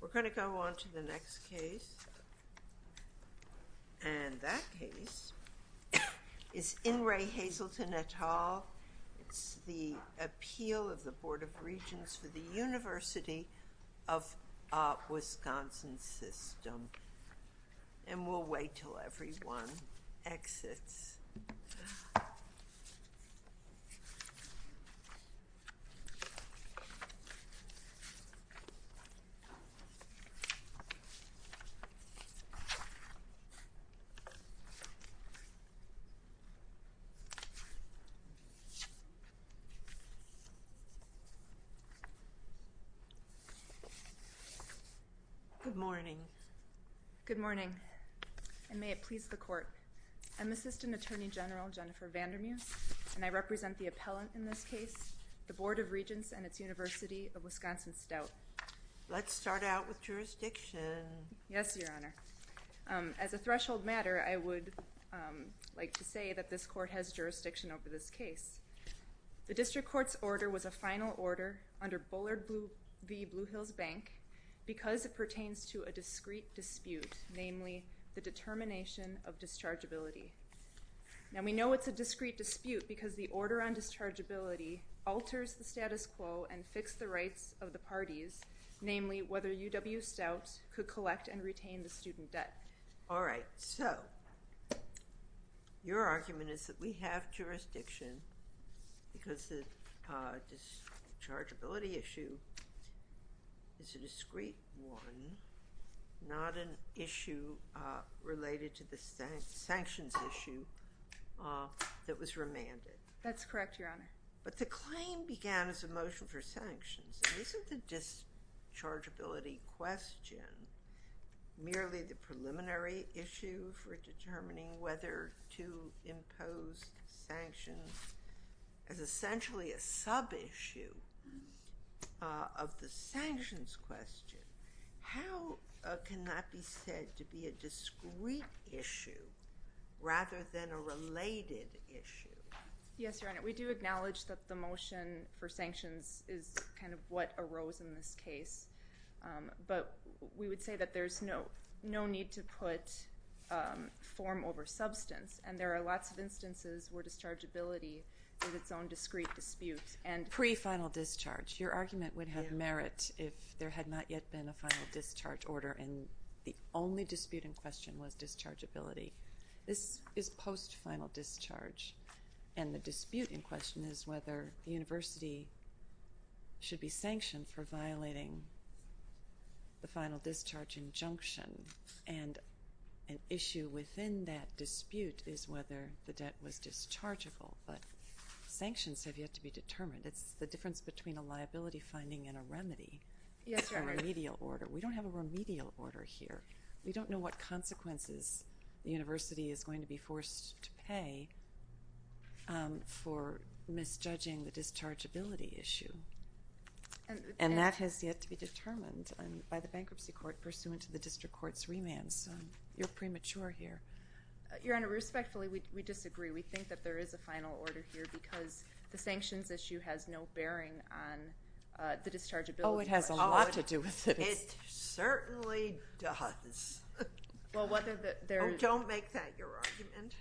We're going to go on to the next case, and that case is N. Ray Hazelton et al. It's the appeal of the Board of Regents for the University of Wisconsin System. And we'll wait until everyone exits. I'm Jennifer Vandermeuse, and I represent the appellant in this case, the Board of Regents and its University of Wisconsin Stout. Let's start out with jurisdiction. Yes, Your Honor. As a threshold matter, I would like to say that this court has jurisdiction over this case. The district court's order was a final order under Bullard v. Blue Hills Bank because it pertains to a discrete dispute, namely the determination of dischargeability. Now, we know it's a discrete dispute because the order on dischargeability alters the status quo and fix the rights of the parties, namely whether UW Stout could collect and retain the student debt. All right. So, your argument is that we have jurisdiction because the dischargeability issue is a discrete one, not an issue related to the sanctions issue that was remanded. That's correct, Your Honor. But the claim began as a motion for sanctions. Isn't the dischargeability question merely the preliminary issue for determining whether to impose sanctions as essentially a sub-issue of the sanctions question? How can that be said to be a discrete issue rather than a related issue? Yes, Your Honor. We do acknowledge that the motion for sanctions is kind of what arose in this case, but we would say that there's no need to put form over substance, and there are lots of instances where dischargeability is its own discrete dispute. Pre-final discharge. Your argument would have merit if there had not yet been a final discharge order, and the only dispute in question was dischargeability. This is post-final discharge, and the dispute in question is whether the university should be sanctioned for violating the final discharge injunction, and an issue within that dispute is whether the debt was determined. It's the difference between a liability finding and a remedy. Yes, Your Honor. A remedial order. We don't have a remedial order here. We don't know what consequences the university is going to be forced to pay for misjudging the dischargeability issue, and that has yet to be determined by the bankruptcy court pursuant to the district court's remand, so you're premature here. Your Honor, respectfully, we disagree. We think that there is a final order here because the sanctions issue has no bearing on the dischargeability question. Oh, it has a lot to do with it. It certainly does. Well, whether the— Oh, don't make that your argument.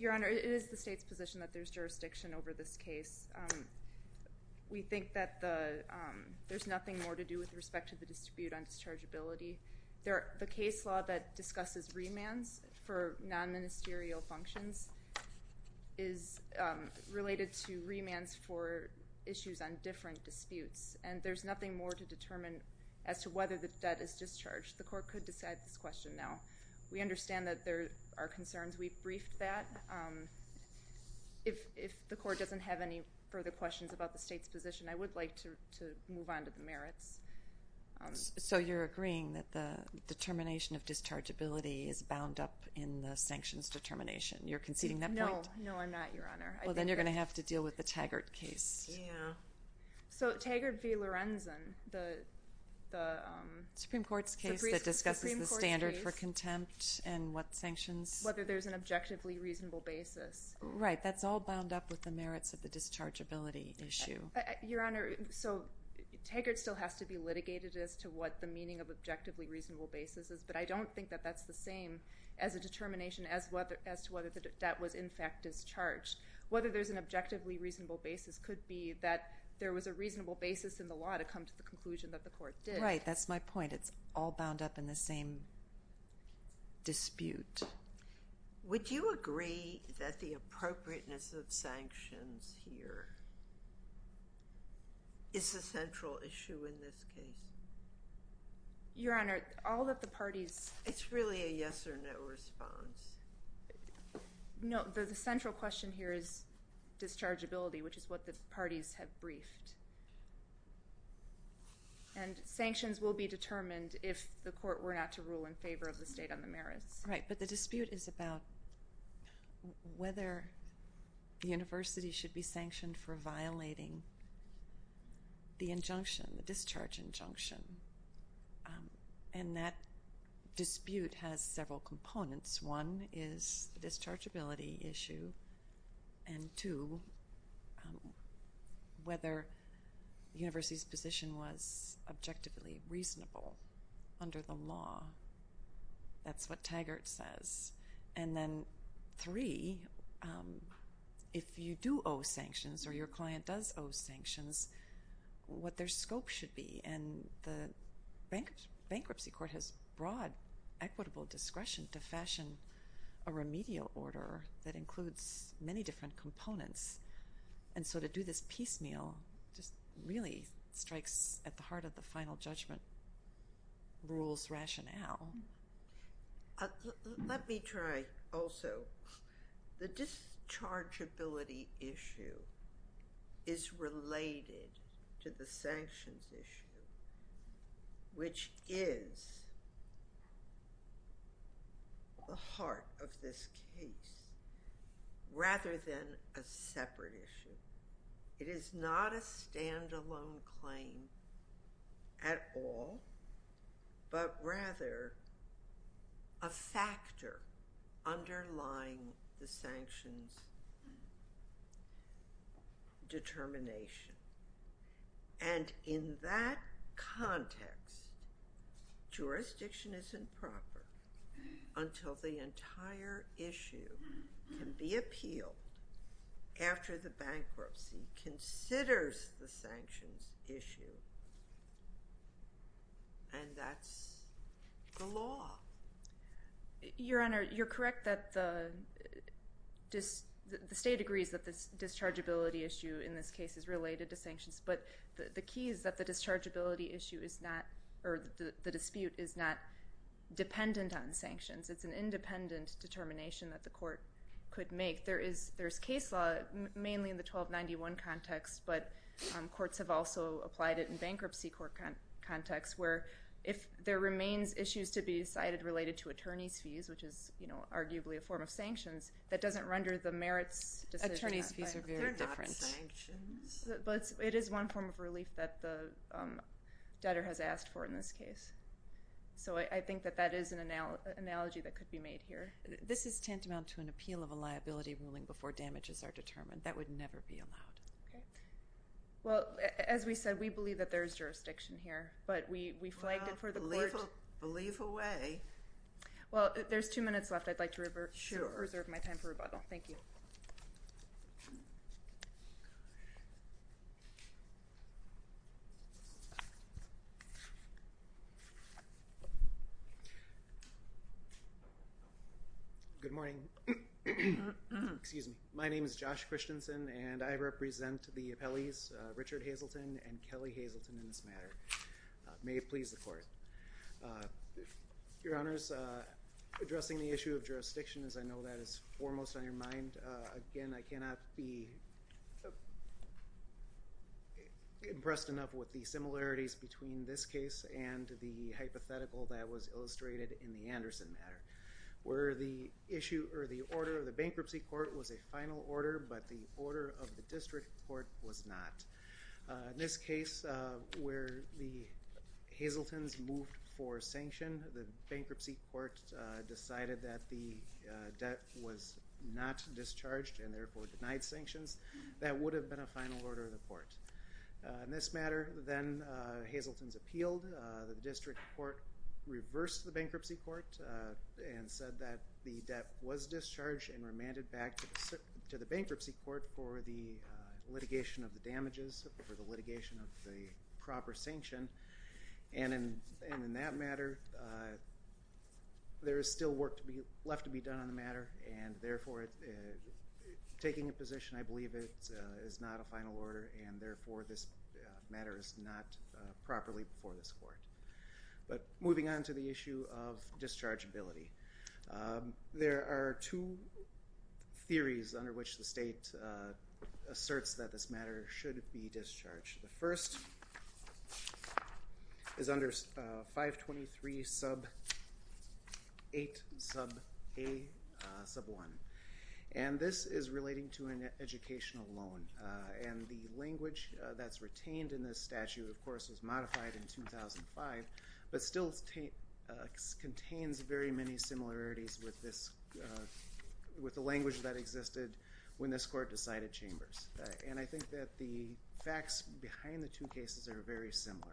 Your Honor, it is the state's position that there's jurisdiction over this case. We think that there's nothing more to do with respect to the dispute on dischargeability. The case law that discusses remands for non-ministerial functions is related to remands for issues on different disputes, and there's nothing more to determine as to whether the debt is discharged. The court could decide this question now. We understand that there are concerns. We've briefed that. If the court doesn't have any further questions about the state's position, I would like to move on to the merits. So you're agreeing that the determination of dischargeability is bound up in the sanctions determination. You're conceding that point? No. No, I'm not, Your Honor. Well, then you're going to have to deal with the Taggart case. Yeah. So Taggart v. Lorenzen, the— Supreme Court's case that discusses the standard for contempt and what sanctions— Whether there's an objectively reasonable basis. Right. That's all bound up with the merits of the dischargeability issue. Your Honor, so Taggart still has to be litigated as to what the meaning of objectively reasonable basis is, but I don't think that that's the same as a determination as to whether the debt was, in fact, discharged. Whether there's an objectively reasonable basis could be that there was a reasonable basis in the law to come to the conclusion that the court did. Right. That's my point. It's all bound up in the same dispute. Would you agree that the appropriateness of sanctions here is the central issue in this case? Your Honor, all that the parties— It's really a yes or no response. No, the central question here is dischargeability, which is what the parties have briefed. And sanctions will be determined if the court were not to rule in favor of the state on the merits. Right, but the dispute is about whether the university should be sanctioned for violating the injunction, the discharge injunction, and that dispute has several components. One is the dischargeability issue, and two, whether the university's position was objectively reasonable under the law. That's what Taggart says. And then three, if you do owe sanctions or your client does owe sanctions, what their scope should be. And the bankruptcy court has broad equitable discretion to fashion a remedial order that includes many different rules, rationale. Let me try also. The dischargeability issue is related to the sanctions issue, which is the heart of this case, rather than a separate issue. It is not a standalone claim at all, but rather a factor underlying the sanctions determination. And in that context, jurisdiction isn't proper until the entire issue can be appealed after the bankruptcy considers the sanctions issue, and that's the law. Your Honor, you're correct that the state agrees that the dischargeability issue in this case is related to sanctions, but the key is that the dischargeability issue is not, or the dispute is not dependent on sanctions. It's an independent determination that the court could make. There is case law, mainly in the 1291 context, but courts have also applied it in bankruptcy court contexts, where if there remains issues to be decided related to attorney's fees, which is arguably a form of sanctions, that doesn't render the merits decision. Attorney's fees are very different. They're not sanctions. But it is one form of relief that the debtor has asked for in this case. So I think that that is an analogy that could be made here. This is tantamount to an appeal of a liability ruling before damages are determined. That would never be allowed. Okay. Well, as we said, we believe that there is jurisdiction here, but we flagged it for the court. Well, believe away. Well, there's two minutes left. I'd like to reserve my time for rebuttal. Thank you. Good morning. Excuse me. My name is Josh Christensen, and I represent the appellees, Richard Hazleton and Kelly Hazleton, in this matter. May it please the court. Your Honors, addressing the issue of jurisdiction, as I know that is foremost on your mind, again, I cannot be impressed enough with the similarities between this case and the hypothetical that was illustrated in the Anderson matter. Where the order of the bankruptcy court was a final order, but the order of the district court was not. In this case, where the Hazeltons moved for sanction, the bankruptcy court decided that the debt was not discharged and therefore denied sanctions. That would have been a final order of the court. In this matter, then Hazeltons appealed. The district court reversed the bankruptcy court. And said that the debt was discharged and remanded back to the bankruptcy court for the litigation of the damages, for the litigation of the proper sanction. And in that matter, there is still work left to be done on the matter. And therefore, taking a position, I believe, is not a final order. And therefore, this matter is not properly before this court. But moving on to the issue of dischargeability. There are two theories under which the state asserts that this matter should be discharged. The first is under 523 sub 8 sub a sub 1. And this is relating to an educational loan. And the language that's retained in this statute, of course, was modified in 2005. But still contains very many similarities with the language that existed when this court decided Chambers. And I think that the facts behind the two cases are very similar.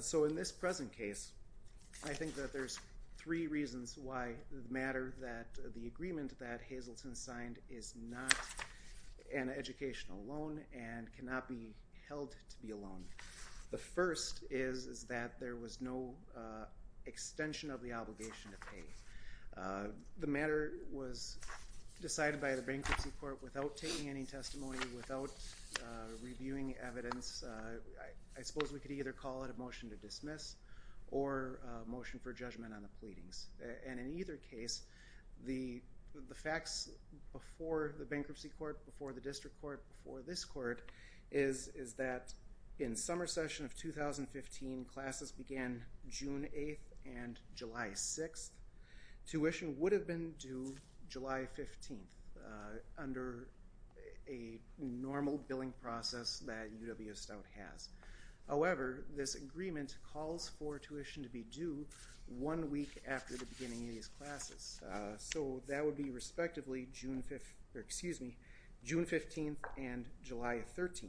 So in this present case, I think that there's three reasons why the matter, that the agreement that Hazleton signed is not an educational loan and cannot be held to be a loan. The first is that there was no extension of the obligation to pay. The matter was decided by the bankruptcy court without taking any testimony, without reviewing evidence. I suppose we could either call it a motion to dismiss or a motion for judgment on the pleadings. And in either case, the facts before the bankruptcy court, before the district court, before this court, is that in summer session of 2015, classes began June 8th and July 6th. Tuition would have been due July 15th under a normal billing process that UW Stout has. However, this agreement calls for tuition to be due one week after the beginning of these classes. So that would be respectively June 15th and July 13th.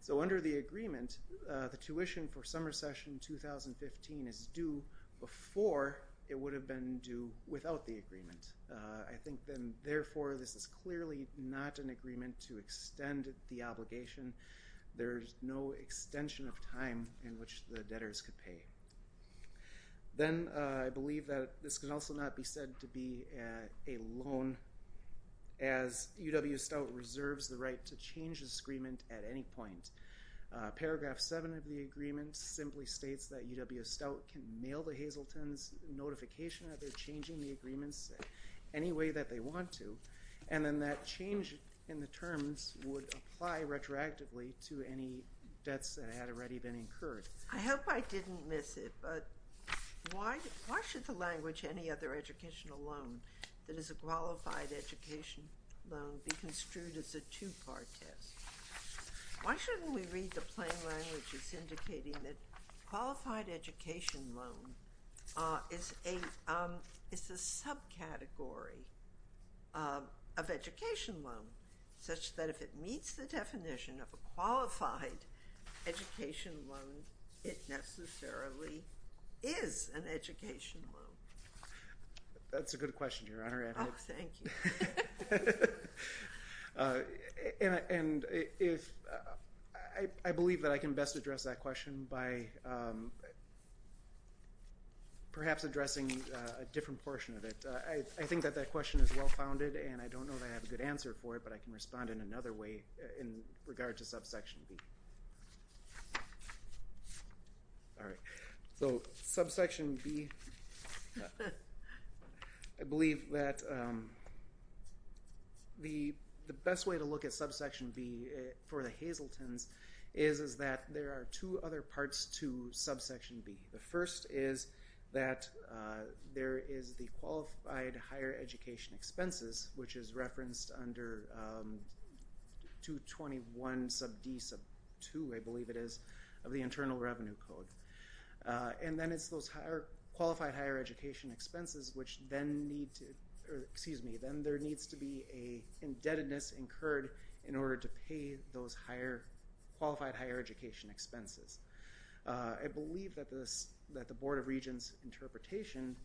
So under the agreement, the tuition for summer session 2015 is due before it would have been due without the agreement. I think then, therefore, this is clearly not an agreement to extend the obligation. There's no extension of time in which the debtors could pay. Then I believe that this can also not be said to be a loan as UW Stout reserves the right to change this agreement at any point. Paragraph 7 of the agreement simply states that UW Stout can mail the Hazleton's notification that they're changing the agreements any way that they want to. And then that change in the terms would apply retroactively to any debts that had already been incurred. I hope I didn't miss it, but why should the language, any other educational loan that is a qualified education loan, be construed as a two-part test? Why shouldn't we read the plain language as indicating that qualified education loan is a subcategory of education loan, such that if it meets the definition of a qualified education loan, it necessarily is an education loan? That's a good question, Your Honor. Oh, thank you. And I believe that I can best address that question by perhaps addressing a different portion of it. I think that that question is well-founded, and I don't know that I have a good answer for it, but I can respond in another way in regard to subsection B. All right. So subsection B, I believe that the best way to look at subsection B for the Hazleton's is that there are two other parts to subsection B. The first is that there is the qualified higher education expenses, which is referenced under 221 sub D sub 2, I believe it is, of the Internal Revenue Code. And then it's those qualified higher education expenses, which then need to, excuse me, then there needs to be an indebtedness incurred in order to pay those higher, qualified higher education expenses. I believe that the Board of Regents interpretation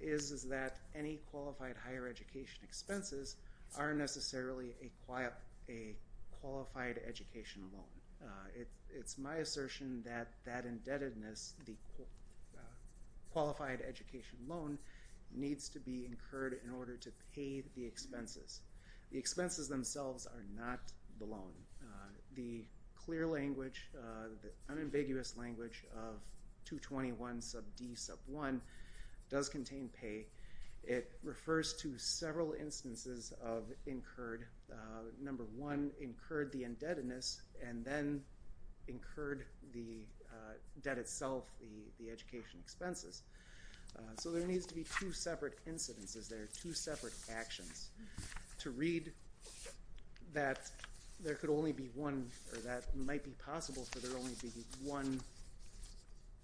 is that any qualified higher education expenses aren't necessarily a qualified education loan. It's my assertion that that indebtedness, the qualified education loan, needs to be incurred in order to pay the expenses. The expenses themselves are not the loan. The clear language, the unambiguous language of 221 sub D sub 1 does contain pay. It refers to several instances of incurred, number one, incurred the indebtedness and then incurred the debt itself, the education expenses. So there needs to be two separate incidences there, two separate actions. To read that there could only be one, or that might be possible for there only to be one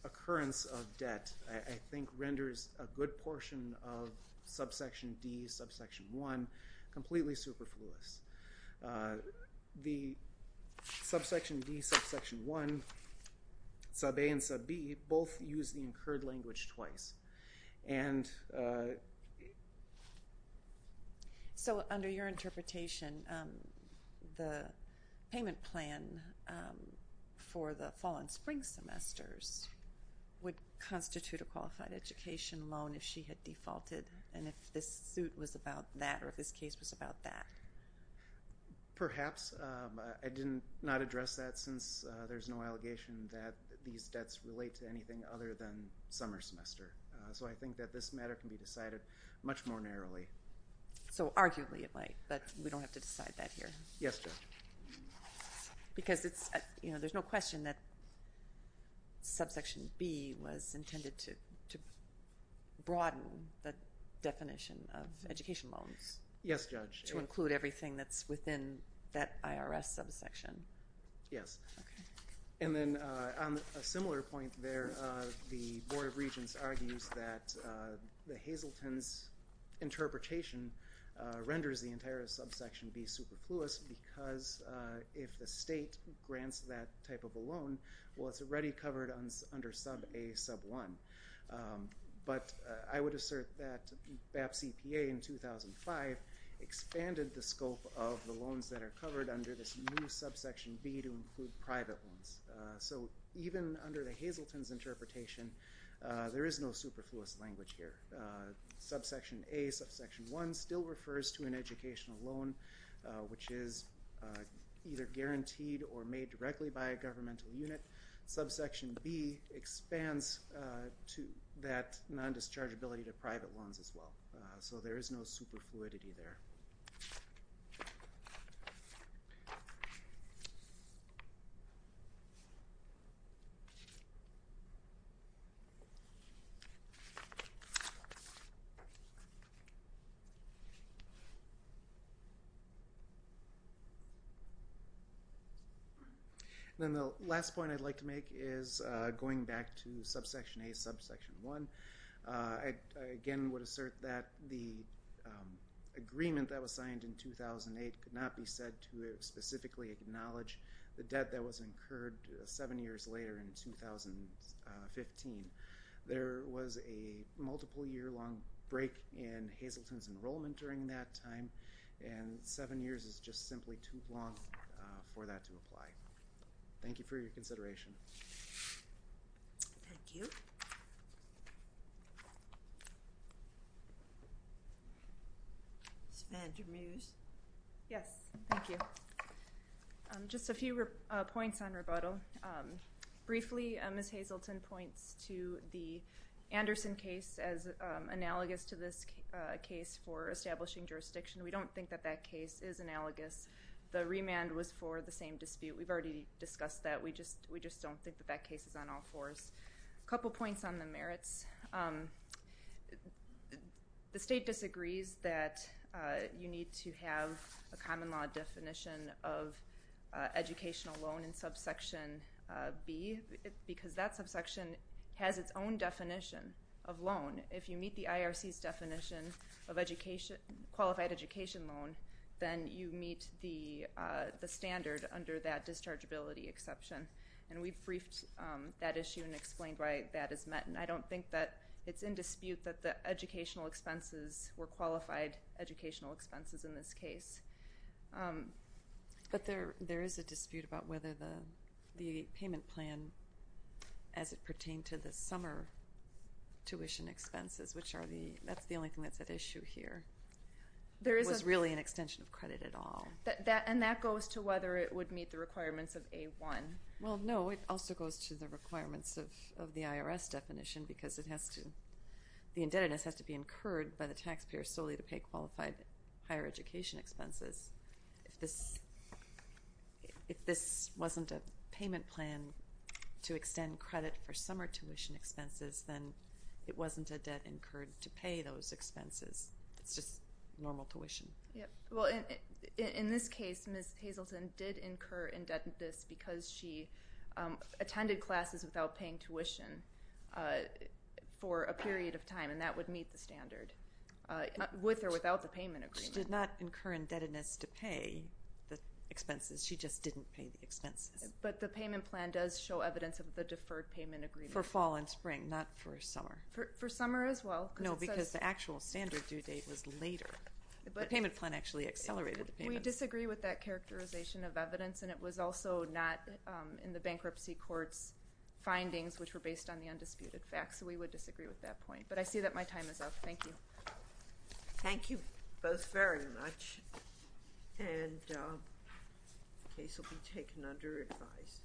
occurrence of debt, I think renders a good portion of subsection D, subsection 1, completely superfluous. The subsection D, subsection 1, sub A and sub B both use the incurred language twice. And... So under your interpretation, the payment plan for the fall and spring semesters would constitute a qualified education loan if she had defaulted and if this suit was about that or if this case was about that? Perhaps. I did not address that since there's no allegation that these debts relate to anything other than summer semester. So I think that this matter can be decided much more narrowly. So arguably it might, but we don't have to decide that here. Yes, Judge. Because there's no question that subsection B was intended to broaden the definition of education loans. Yes, Judge. To include everything that's within that IRS subsection. Yes. And then on a similar point there, the Board of Regents argues that the Hazelton's interpretation renders the entire subsection B superfluous because if the state grants that type of a loan, well it's already covered under sub A, sub 1. But I would assert that BAP CPA in 2005 expanded the scope of the loans that are covered under this new subsection B to include private loans. So even under the Hazelton's interpretation, there is no superfluous language here. Subsection A, subsection 1 still refers to an educational loan, which is either guaranteed or made directly by a governmental unit. Subsection B expands to that non-dischargeability to private loans as well. So there is no superfluidity there. And then the last point I'd like to make is going back to subsection A, subsection 1. I again would assert that the agreement that was signed in 2008 could not be said to specifically acknowledge the debt that was incurred seven years later in 2015. There was a multiple-year-long break in Hazelton's enrollment during that time, and seven years is just simply too long for that to apply. Thank you for your consideration. Thank you. Ms. Vander Meus. Yes, thank you. Just a few points on rebuttal. Briefly, Ms. Hazelton points to the Anderson case as analogous to this case for establishing jurisdiction. We don't think that that case is analogous. The remand was for the same dispute. We've already discussed that. We just don't think that that case is on all fours. A couple points on the merits. The state disagrees that you need to have a common law definition of educational loan in subsection B because that subsection has its own definition of loan. If you meet the IRC's definition of qualified education loan, then you meet the standard under that dischargeability exception, and we've briefed that issue and explained why that is met, and I don't think that it's in dispute that the educational expenses were qualified educational expenses in this case. But there is a dispute about whether the payment plan, as it pertained to the summer tuition expenses, which are the only thing that's at issue here, was really an extension of credit at all. And that goes to whether it would meet the requirements of A1. Well, no, it also goes to the requirements of the IRS definition because the indebtedness has to be incurred by the taxpayer solely to pay qualified higher education expenses. If this wasn't a payment plan to extend credit for summer tuition expenses, then it wasn't a debt incurred to pay those expenses. It's just normal tuition. Well, in this case, Ms. Hazleton did incur indebtedness because she attended classes without paying tuition for a period of time, and that would meet the standard with or without the payment agreement. She did not incur indebtedness to pay the expenses. She just didn't pay the expenses. But the payment plan does show evidence of the deferred payment agreement. For fall and spring, not for summer. For summer as well. No, because the actual standard due date was later. The payment plan actually accelerated the payment. We disagree with that characterization of evidence, and it was also not in the bankruptcy court's findings, which were based on the undisputed facts. So we would disagree with that point. But I see that my time is up. Thank you. Thank you both very much. And the case will be taken under advice.